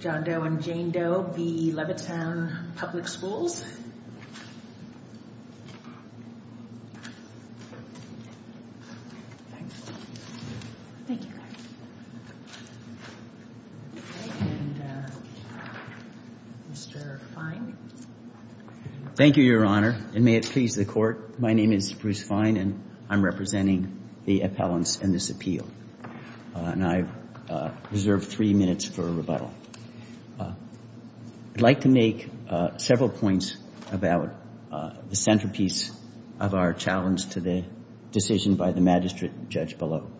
John Doe and Jane Doe, v. Levittown Public Schools Thank you, Your Honor, and may it please the Court, my name is Bruce Fine and I'm representing the appellants in this appeal. And I reserve three minutes for rebuttal. I'd like to make several points about the centerpiece of our challenge to the decision by the magistrate judge below.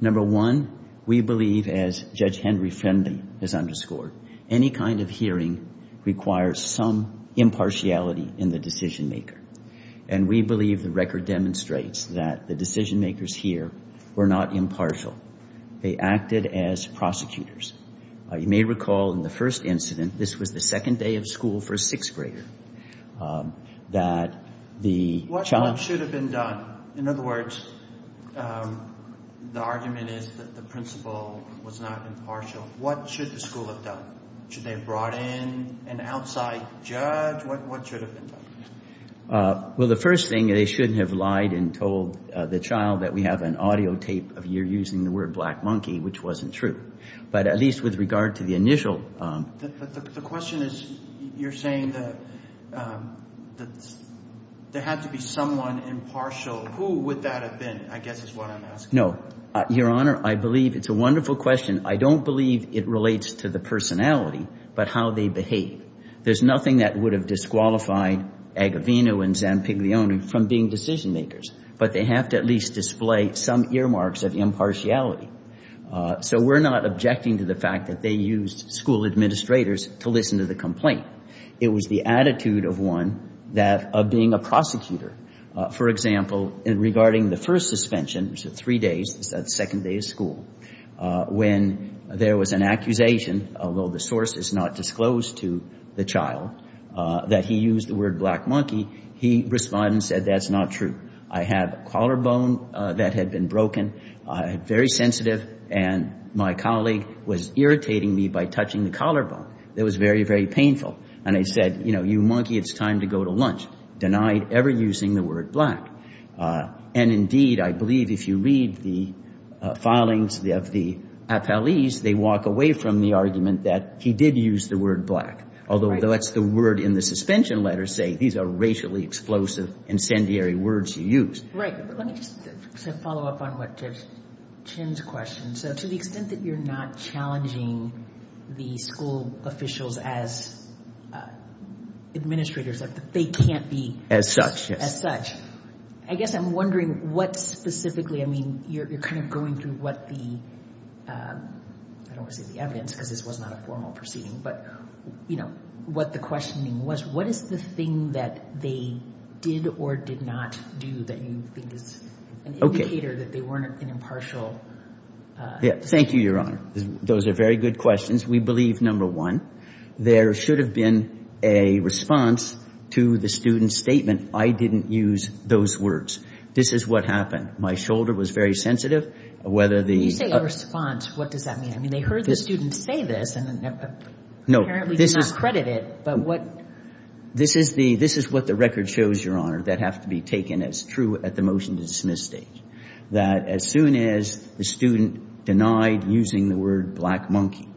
Number one, we believe, as Judge Henry Friendly has underscored, any kind of hearing requires some impartiality in the decision-maker. And we believe the record demonstrates that the decision-makers here were not impartial. They acted as prosecutors. You may recall in the first incident, this was the second day of school for a sixth grader, that the child... What should have been done? In other words, the argument is that the principal was not impartial. What should the school have done? Should they have brought in an outside judge? What should have been done? Well, the first thing, they shouldn't have lied and told the child that we have an audio tape of you using the word black monkey, which wasn't true. But at least with regard to the initial... The question is, you're saying that there had to be someone impartial. Who would that have been, I guess is what I'm asking. No. Your Honor, I believe it's a wonderful question. I don't believe it relates to the personality, but how they behave. There's nothing that would have disqualified Agavino and Zampiglione from being decision-makers. But they have to at least display some earmarks of impartiality. So we're not objecting to the fact that they used school administrators to listen to the complaint. It was the attitude of one, that of being a prosecutor. For example, regarding the first suspension, it was a three-day suspension, the second day of school. When there was an accusation, although the source is not disclosed to the child, that he used the word black monkey, he responded and said, that's not true. I had a collarbone that had been broken, very sensitive, and my colleague was irritating me by touching the collarbone. It was very, very painful. And I said, you know, you monkey, it's time to go to lunch. Denied ever using the word black. And indeed, I believe if you read the filings of the appellees, they walk away from the argument that he did use the word black. Although that's the word in the suspension letter saying these are racially explosive, incendiary words you use. Right. Let me just follow up on what Jim's question. So to the extent that you're not challenging the school officials as administrators, like they can't be as such. I guess I'm wondering what specifically, I mean, you're kind of going through what the, I don't want to say the evidence, because this was not a formal proceeding, but, you know, what the questioning was. What is the thing that they did or did not do that you think is an indicator that they weren't an impartial? Thank you, Your Honor. Those are very good questions. We believe, number one, there should have been a response to the student's statement, I didn't use those words. This is what happened. My shoulder was very sensitive. Whether the... You say a response. What does that mean? I mean, they heard the student say this and apparently did not credit it. This is what the record shows, Your Honor, that have to be taken as true at the motion to dismiss stage. That as soon as the student denied using the word black monkey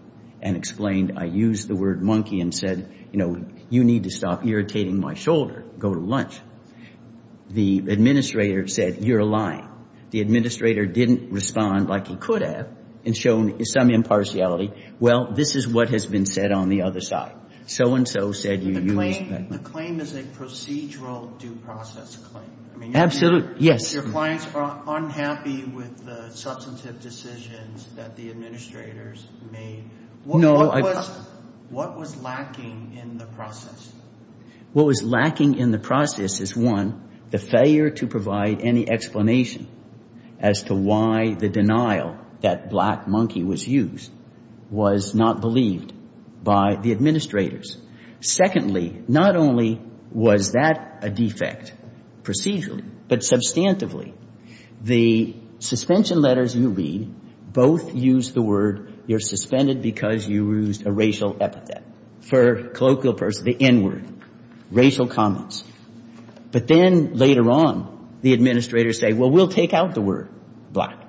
and explained, I used the word monkey and said, you know, you need to stop irritating my shoulder. Go to lunch. The administrator said, you're lying. The administrator didn't respond like he could have and shown some impartiality. Well, this is what has been said on the other side. So-and-so said... The claim is a procedural due process claim. Absolutely. Yes. Your clients are unhappy with the substantive decisions that the administrators made. What was lacking in the process? What was lacking in the process is, one, the failure to provide any explanation as to why the denial that black monkey was used was not believed by the administrators. Secondly, not only was that a defect procedurally, but substantively. The suspension letters you read both use the word you're suspended because you used a racial epithet. For colloquial purposes, the N word, racial comments. But then later on, the administrators say, well, we'll take out the word black.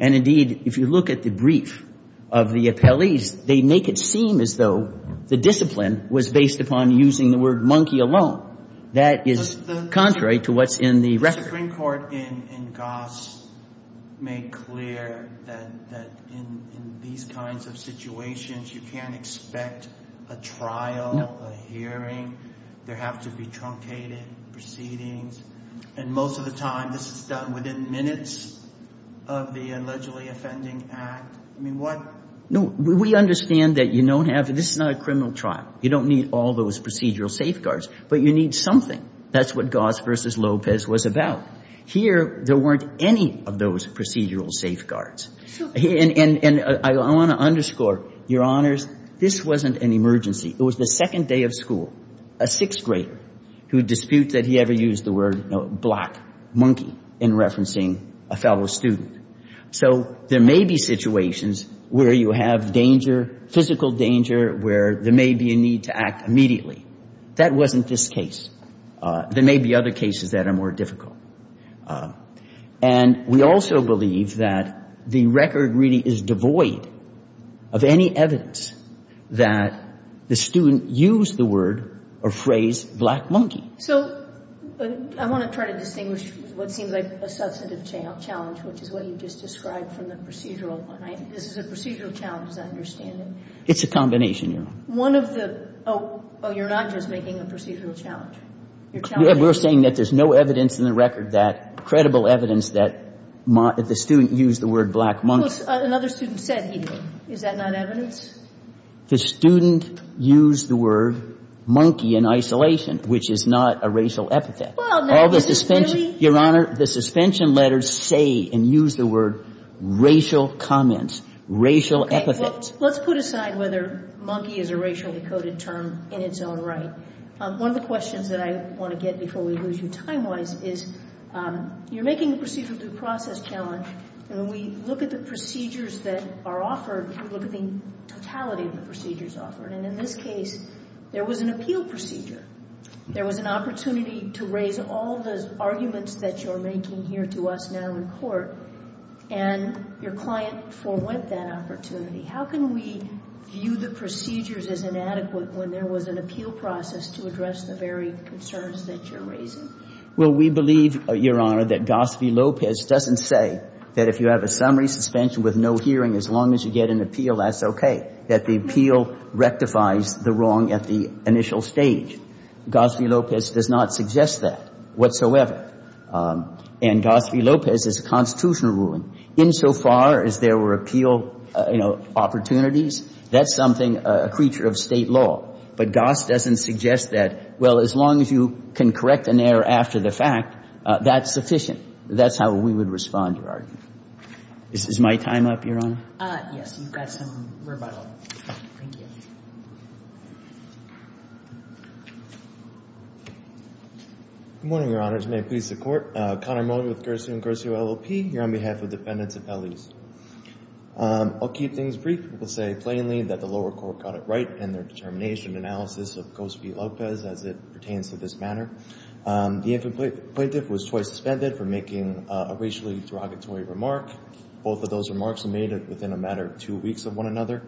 And, indeed, if you look at the brief of the appellees, they make it seem as though the discipline was based upon using the word monkey alone. That is contrary to what's in the record. Mr. Greencourt in Goss made clear that in these kinds of situations, you can't expect a trial, a hearing. There have to be truncated proceedings. And most of the time, this is done within minutes of the allegedly offending act. I mean, what- No, we understand that you don't have-this is not a criminal trial. You don't need all those procedural safeguards. But you need something. That's what Goss v. Lopez was about. Here, there weren't any of those procedural safeguards. And I want to underscore, Your Honors, this wasn't an emergency. It was the second day of school. A sixth grader who disputes that he ever used the word black monkey in referencing a fellow student. So there may be situations where you have danger, physical danger, where there may be a need for action immediately. That wasn't this case. There may be other cases that are more difficult. And we also believe that the record really is devoid of any evidence that the student used the word or phrase black monkey. So I want to try to distinguish what seems like a substantive challenge, which is what you just described from the procedural one. This is a procedural challenge, as I understand it. It's a combination, Your Honor. One of the-oh, you're not just making a procedural challenge. You're challenging- We're saying that there's no evidence in the record that-credible evidence that the student used the word black monkey. Well, another student said he did. Is that not evidence? The student used the word monkey in isolation, which is not a racial epithet. All the suspension- Well, that is clearly- Your Honor, the suspension letters say and use the word racial comments, racial epithets. Okay. Well, let's put aside whether monkey is a racially coded term in its own right. One of the questions that I want to get before we lose you time-wise is you're making a procedural due process challenge, and when we look at the procedures that are offered, we look at the totality of the procedures offered, and in this case, there was an appeal procedure. There was an opportunity to raise all the arguments that you're making here to us now in court, and your client forwent that opportunity. How can we view the procedures as inadequate when there was an appeal process to address the very concerns that you're raising? Well, we believe, Your Honor, that Gospe Lopez doesn't say that if you have a summary suspension with no hearing, as long as you get an appeal, that's okay, that the appeal rectifies the wrong at the initial stage. Gospe Lopez does not suggest that whatsoever. And Gospe Lopez is a constitutional ruling. Insofar as there were appeal, you know, opportunities, that's something, a creature of State law. But Gospe doesn't suggest that, well, as long as you can correct an error after the fact, that's sufficient. That's how we would respond, Your Honor. Is this my time up, Your Honor? Yes, you've got some rebuttal. Thank you. Good morning, Your Honors. May it please the Court. Connor Mullen with Garcia and Garcia LLP here on behalf of defendants' appellees. I'll keep things brief. I will say plainly that the lower court got it right in their determination analysis of Gospe Lopez as it pertains to this matter. The infant plaintiff was twice suspended for making a racially derogatory remark. Both of those remarks were made within a matter of two weeks of one another.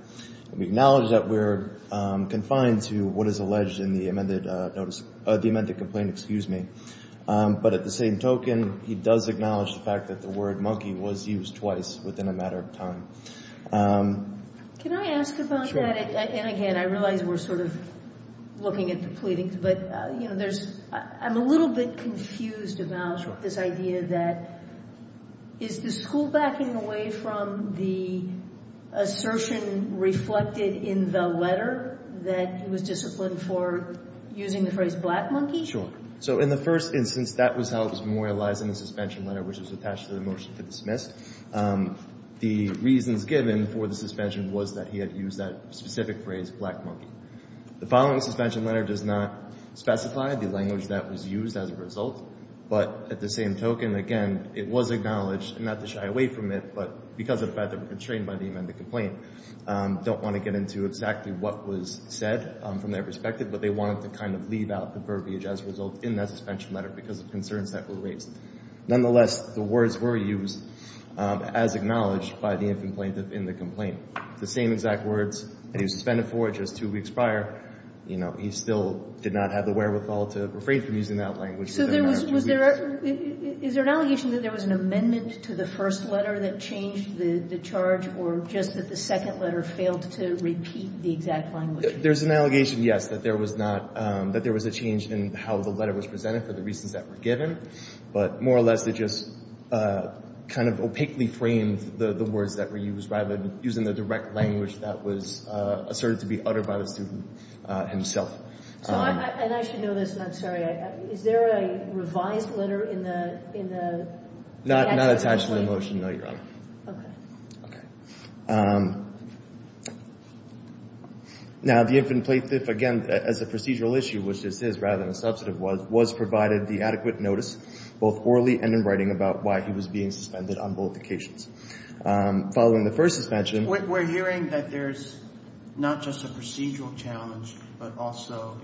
We acknowledge that we're confined to what is alleged in the amended notice, the amended complaint, excuse me. But at the same token, he does acknowledge the fact that the word monkey was used twice within a matter of time. Can I ask about that? And again, I realize we're sort of looking at the pleadings, but, you know, I'm a little bit confused about this idea that is the school backing away from the assertion reflected in the letter that he was disciplined for using the phrase black monkey? So in the first instance, that was how it was memorialized in the suspension letter, which was attached to the motion to dismiss. The reasons given for the suspension was that he had used that specific phrase, black monkey. The following suspension letter does not specify the language that was used as a result, but at the same token, again, it was acknowledged, and not to shy away from it, but because of the fact that we're constrained by the amended complaint, don't want to get into exactly what was said from their perspective, but they wanted to kind of leave out the verbiage as a result in that suspension letter because of concerns that were raised. Nonetheless, the words were used as acknowledged by the infant plaintiff in the complaint. The same exact words that he was suspended for just two weeks prior, you know, he still did not have the wherewithal to refrain from using that language. So there was, was there, is there an allegation that there was an amendment to the first letter that changed the charge or just that the second letter failed to repeat the exact language? There's an allegation, yes, that there was not, that there was a change in how the letter was presented for the reasons that were given, but more or less it just kind of opaquely framed the words that were used rather than the direct language that was asserted to be uttered by the student himself. So I, and I should know this, and I'm sorry. Is there a revised letter in the, in the? Not attached to the motion, no, Your Honor. Okay. Okay. Now the infant plaintiff, again, as a procedural issue, which is his rather than a substantive one, was provided the adequate notice, both orally and in writing, about why he was being suspended on both occasions. Following the first suspension. We're hearing that there's not just a procedural challenge, but also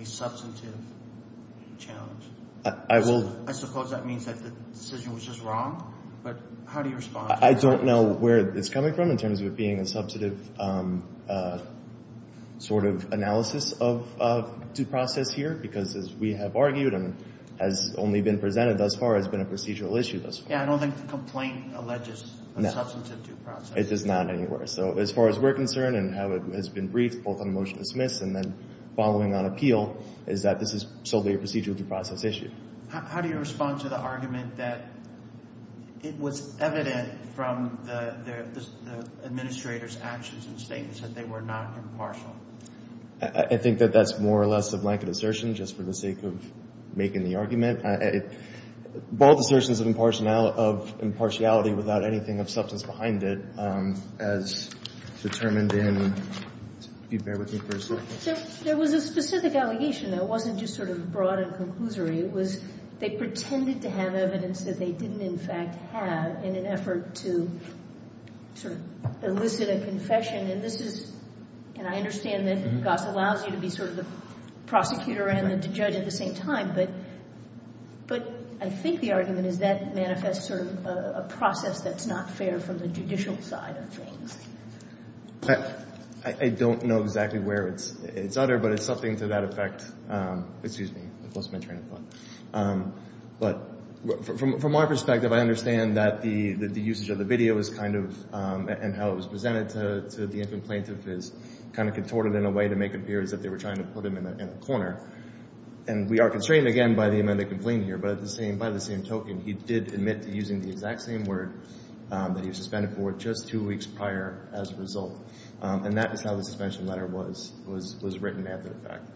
a substantive challenge. I will. I suppose that means that the decision was just wrong, but how do you respond to that? I don't know where it's coming from in terms of it being a substantive sort of analysis of due process here, because as we have argued and has only been presented thus far has been a procedural issue thus far. Yeah, I don't think the complaint alleges a substantive due process. It does not anywhere. So as far as we're concerned and how it has been briefed, both on motion to dismiss and then following on appeal, is that this is solely a procedural due process issue. How do you respond to the argument that it was evident from the administrator's actions and statements that they were not impartial? I think that that's more or less a blanket assertion just for the sake of making the argument. Both assertions of impartiality without anything of substance behind it as determined in, if you bear with me for a second. There was a specific allegation that wasn't just sort of broad and conclusory. It was they pretended to have evidence that they didn't in fact have in an effort to sort of elicit a confession. And this is, and I understand that Goss allows you to be sort of the prosecutor and the judge at the same time, but I think the argument is that manifests sort of a process that's not fair from the judicial side of things. I don't know exactly where it's uttered, but it's something to that effect. Excuse me, I've lost my train of thought. But from our perspective, I understand that the usage of the video is kind of, and how it was presented to the infant plaintiff is kind of contorted in a way to make it appear as if they were trying to put him in a corner. And we are constrained again by the amended complaint here, but by the same token, he did admit to using the exact same word that he was suspended for just two weeks prior as a result. And that is how the suspension letter was written after the fact.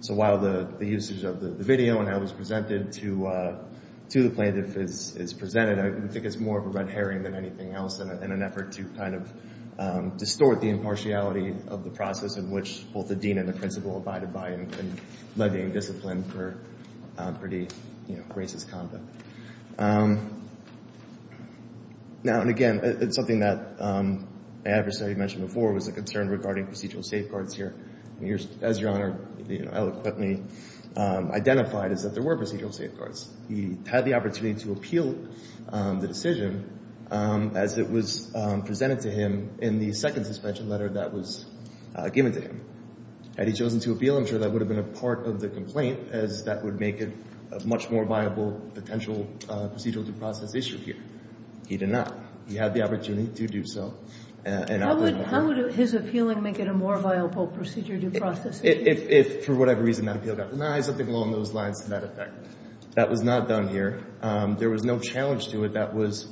So while the usage of the video and how it was presented to the plaintiff is presented, I think it's more of a red herring than anything else in an effort to kind of distort the impartiality of the process in which both the dean and the principal abided by in lending discipline for pretty, you know, racist conduct. Now, and again, it's something that I have to say, I mentioned before, was a concern regarding procedural safeguards here. As Your Honor eloquently identified, is that there were procedural safeguards. He had the opportunity to appeal the decision as it was presented to him in the second suspension letter that was given to him. Had he chosen to appeal, I'm sure that would have been a part of the complaint as that would make it a much more viable potential procedural due process issue here. He did not. He had the opportunity to do so. How would his appealing make it a more viable procedural due process issue? If for whatever reason that appeal got denied, something along those lines to that effect. That was not done here. There was no challenge to it that was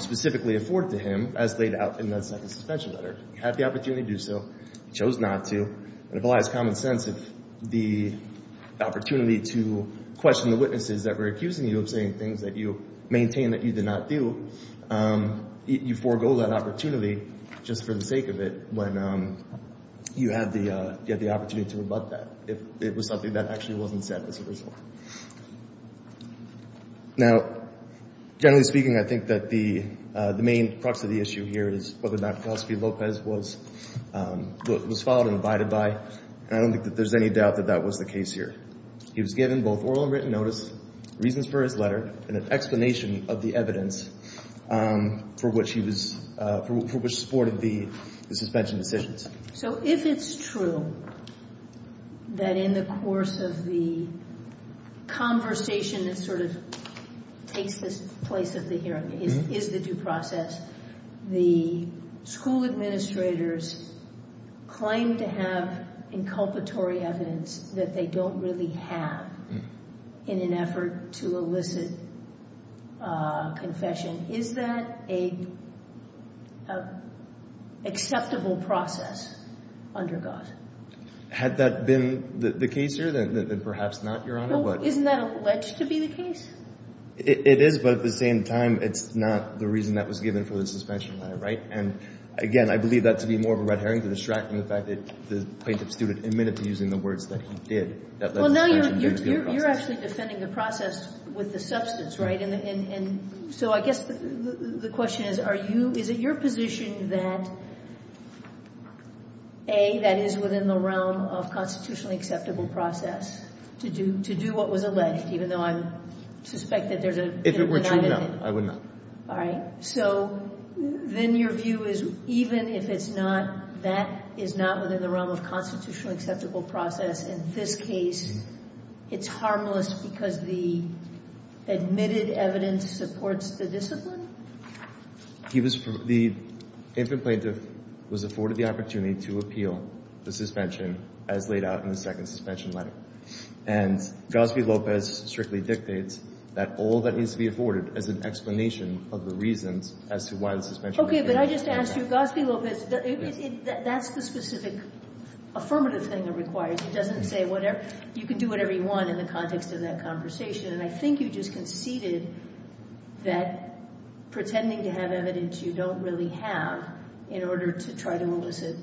specifically afforded to him as laid out in the second suspension letter. He had the opportunity to do so. He chose not to. It applies common sense if the opportunity to question the witnesses that were accusing you of saying things that you maintain that you did not do, you forego that opportunity just for the sake of it when you had the opportunity to rebut that if it was something that actually wasn't said as a result. Now, generally speaking, I think that the main crux of the issue here is whether or not Philosophy Lopez was followed and abided by. I don't think that there's any doubt that that was the case here. He was given both oral and written notice, reasons for his letter, and an explanation of the evidence for which he supported the suspension decisions. So if it's true that in the course of the conversation that sort of takes this place at the hearing, is the due process, the school administrators claim to have inculpatory evidence that they don't really have in an effort to elicit confession, is that an acceptable process under God? Had that been the case here? Then perhaps not, Your Honor. Well, isn't that alleged to be the case? It is, but at the same time, it's not the reason that was given for the suspension letter, right? And, again, I believe that to be more of a red herring to distract from the fact that the plaintiff's student admitted to using the words that he did. Well, now you're actually defending the process with the substance, right? And so I guess the question is, are you — is it your position that, A, that is within the realm of constitutionally acceptable process to do what was alleged, even though I suspect that there's an item in it? If it were true, no, I would not. All right. So then your view is even if it's not, that is not within the realm of constitutionally In this case, it's harmless because the admitted evidence supports the discipline? He was — the infant plaintiff was afforded the opportunity to appeal the suspension as laid out in the second suspension letter. And Gospie-Lopez strictly dictates that all that needs to be afforded is an explanation of the reasons as to why the suspension — Okay, but I just asked you, Gospie-Lopez, that's the specific affirmative thing it requires. It doesn't say whatever — you can do whatever you want in the context of that conversation. And I think you just conceded that pretending to have evidence you don't really have in order to try to elicit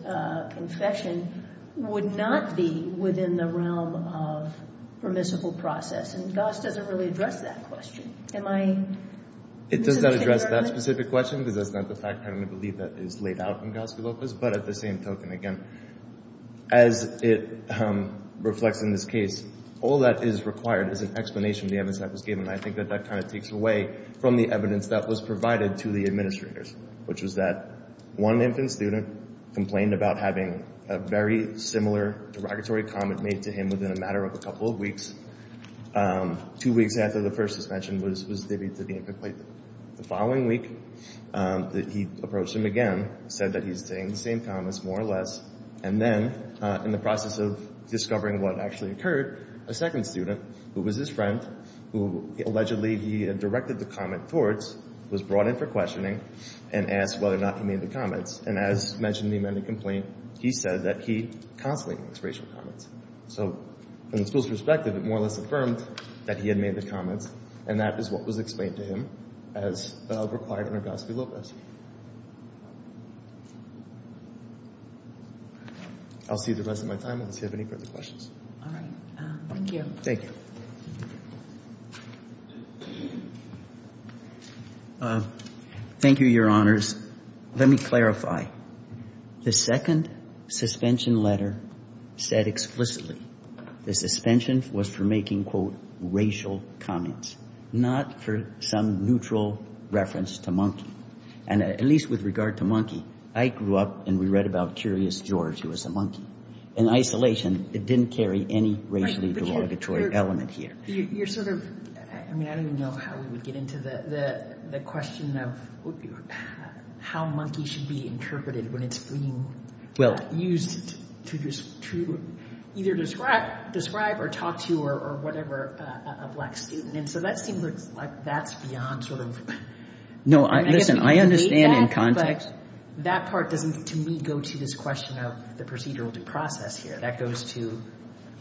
confession would not be within the realm of permissible process. And Gos doesn't really address that question. Am I — It does not address that specific question because that's not the fact I'm going to believe that is laid out in Gospie-Lopez. But at the same token, again, as it reflects in this case, all that is required is an explanation of the evidence that was given. And I think that that kind of takes away from the evidence that was provided to the administrators, which was that one infant student complained about having a very similar derogatory comment made to him within a matter of a couple of weeks. Two weeks after the first suspension was due to be incomplete. The following week, he approached him again, said that he's saying the same comments, more or less. And then, in the process of discovering what actually occurred, a second student, who was his friend, who allegedly he had directed the comment towards, was brought in for questioning and asked whether or not he made the comments. And as mentioned in the amended complaint, he said that he constantly makes racial comments. So from the school's perspective, it more or less affirmed that he had made the comments. And that is what was explained to him as required under Gospie-Lopez. I'll see the rest of my time unless you have any further questions. All right. Thank you. Thank you. Thank you, Your Honors. Let me clarify. The second suspension letter said explicitly the suspension was for making, quote, racial comments, not for some neutral reference to monkey. And at least with regard to monkey, I grew up and we read about Curious George, who was a monkey. In isolation, it didn't carry any racially derogatory element here. You're sort of, I mean, I don't even know how we would get into the question of how monkey should be interpreted when it's being used to either describe or talk to or whatever a black student. And so that seems like that's beyond sort of. No, listen, I understand in context. But that part doesn't, to me, go to this question of the procedural due process here. That goes to,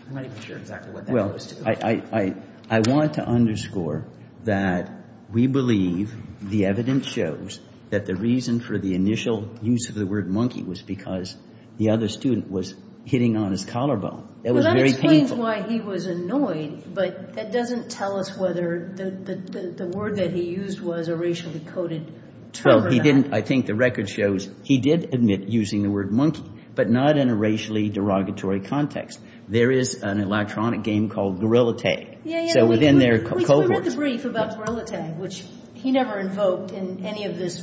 I'm not even sure exactly what that goes to. I want to underscore that we believe the evidence shows that the reason for the initial use of the word monkey was because the other student was hitting on his collarbone. That was very painful. Well, that explains why he was annoyed. But that doesn't tell us whether the word that he used was a racially coded term or not. Well, he didn't. I think the record shows he did admit using the word monkey, but not in a racially derogatory context. There is an electronic game called Gorillatay. Yeah, yeah. So within their code words. We read the brief about Gorillatay, which he never invoked in any of this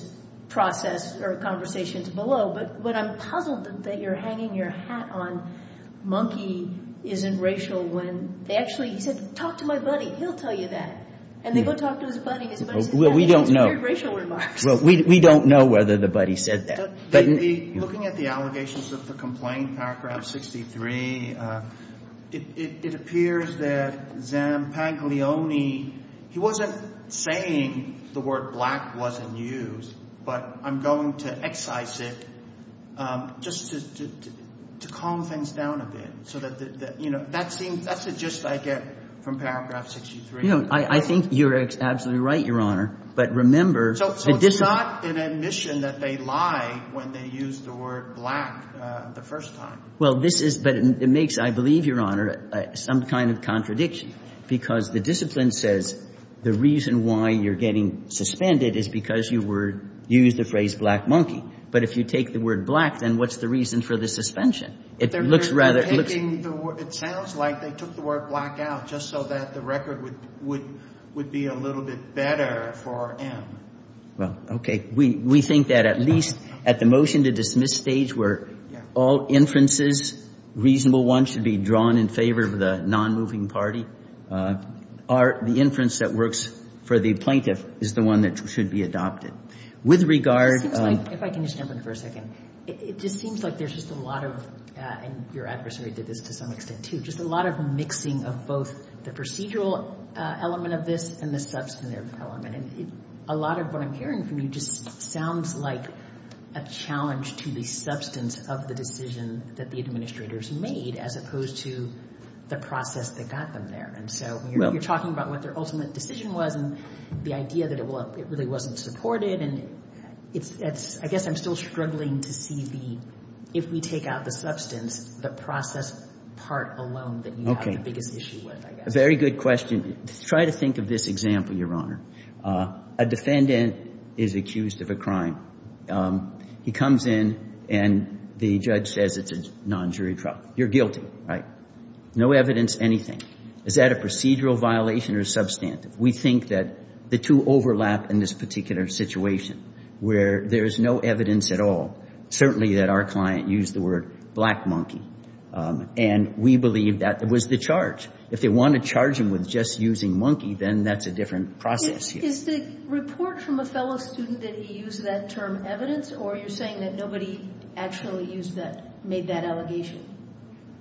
process or conversations below. But what I'm puzzled that you're hanging your hat on monkey isn't racial when they actually, he said, talk to my buddy. He'll tell you that. And they go talk to his buddy. Well, we don't know. He has very racial remarks. Well, we don't know whether the buddy said that. Looking at the allegations of the complaint, paragraph 63, it appears that Zampaglione, he wasn't saying the word black wasn't used. But I'm going to excise it just to calm things down a bit so that, you know, that seems that's the gist I get from paragraph 63. You know, I think you're absolutely right, Your Honor. So it's not an admission that they lied when they used the word black the first time. Well, this is, but it makes, I believe, Your Honor, some kind of contradiction. Because the discipline says the reason why you're getting suspended is because you used the phrase black monkey. But if you take the word black, then what's the reason for the suspension? It sounds like they took the word black out just so that the record would be a little bit better for M. Well, okay. We think that at least at the motion-to-dismiss stage where all inferences, reasonable ones, should be drawn in favor of the non-moving party, the inference that works for the plaintiff is the one that should be adopted. If I can just jump in for a second. It just seems like there's just a lot of, and your adversary did this to some extent, too, just a lot of mixing of both the procedural element of this and the substantive element. And a lot of what I'm hearing from you just sounds like a challenge to the substance of the decision that the administrators made, as opposed to the process that got them there. And so you're talking about what their ultimate decision was and the idea that it really wasn't supported. And I guess I'm still struggling to see the, if we take out the substance, the process part alone that you have the biggest issue with, I guess. A very good question. Try to think of this example, Your Honor. A defendant is accused of a crime. He comes in and the judge says it's a non-jury trial. You're guilty, right? No evidence, anything. Is that a procedural violation or substantive? We think that the two overlap in this particular situation where there's no evidence at all. Certainly that our client used the word black monkey. And we believe that was the charge. If they want to charge him with just using monkey, then that's a different process here. Is the report from a fellow student that he used that term evidence? Or are you saying that nobody actually used that, made that allegation?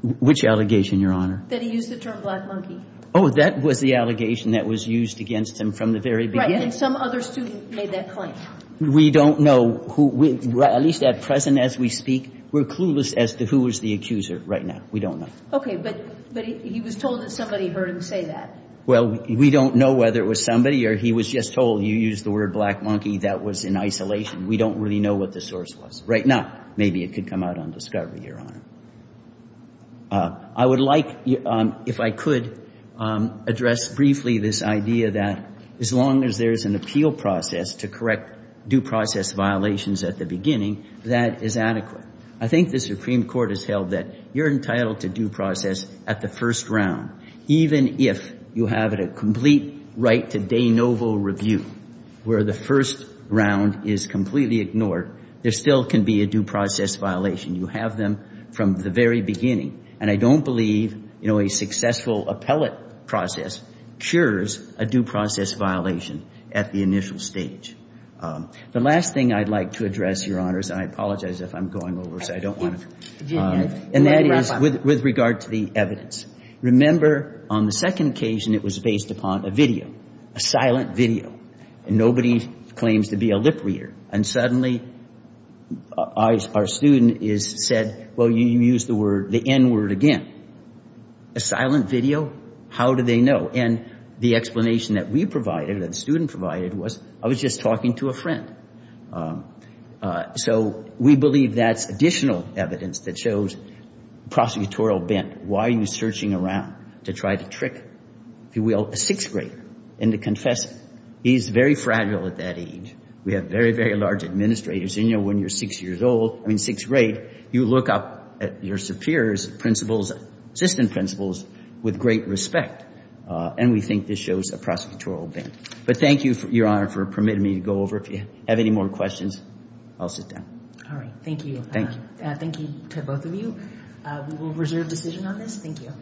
Which allegation, Your Honor? That he used the term black monkey. Oh, that was the allegation that was used against him from the very beginning. Right, and some other student made that claim. We don't know who, at least at present as we speak, we're clueless as to who was the accuser right now. We don't know. Okay, but he was told that somebody heard him say that. Well, we don't know whether it was somebody or he was just told, you used the word black monkey, that was in isolation. We don't really know what the source was. Right now, maybe it could come out on discovery, Your Honor. I would like, if I could, address briefly this idea that as long as there is an appeal process to correct due process violations at the beginning, that is adequate. I think the Supreme Court has held that you're entitled to due process at the first round. Even if you have a complete right to de novo review where the first round is completely ignored, there still can be a due process violation. You have them from the very beginning. And I don't believe, you know, a successful appellate process cures a due process violation at the initial stage. The last thing I'd like to address, Your Honors, and I apologize if I'm going over, so I don't want to. And that is with regard to the evidence. Remember, on the second occasion, it was based upon a video, a silent video. And nobody claims to be a lip reader. And suddenly our student is said, well, you used the word, the N word again. A silent video? How do they know? And the explanation that we provided, that the student provided, was I was just talking to a friend. So we believe that's additional evidence that shows prosecutorial bent. Why are you searching around to try to trick, if you will, a sixth grader into confessing? He's very fragile at that age. We have very, very large administrators. And, you know, when you're sixth grade, you look up at your superior's principles, assistant principles, with great respect. And we think this shows a prosecutorial bent. But thank you, Your Honor, for permitting me to go over. If you have any more questions, I'll sit down. All right. Thank you. Thank you. Thank you to both of you. We will reserve decision on this. Thank you.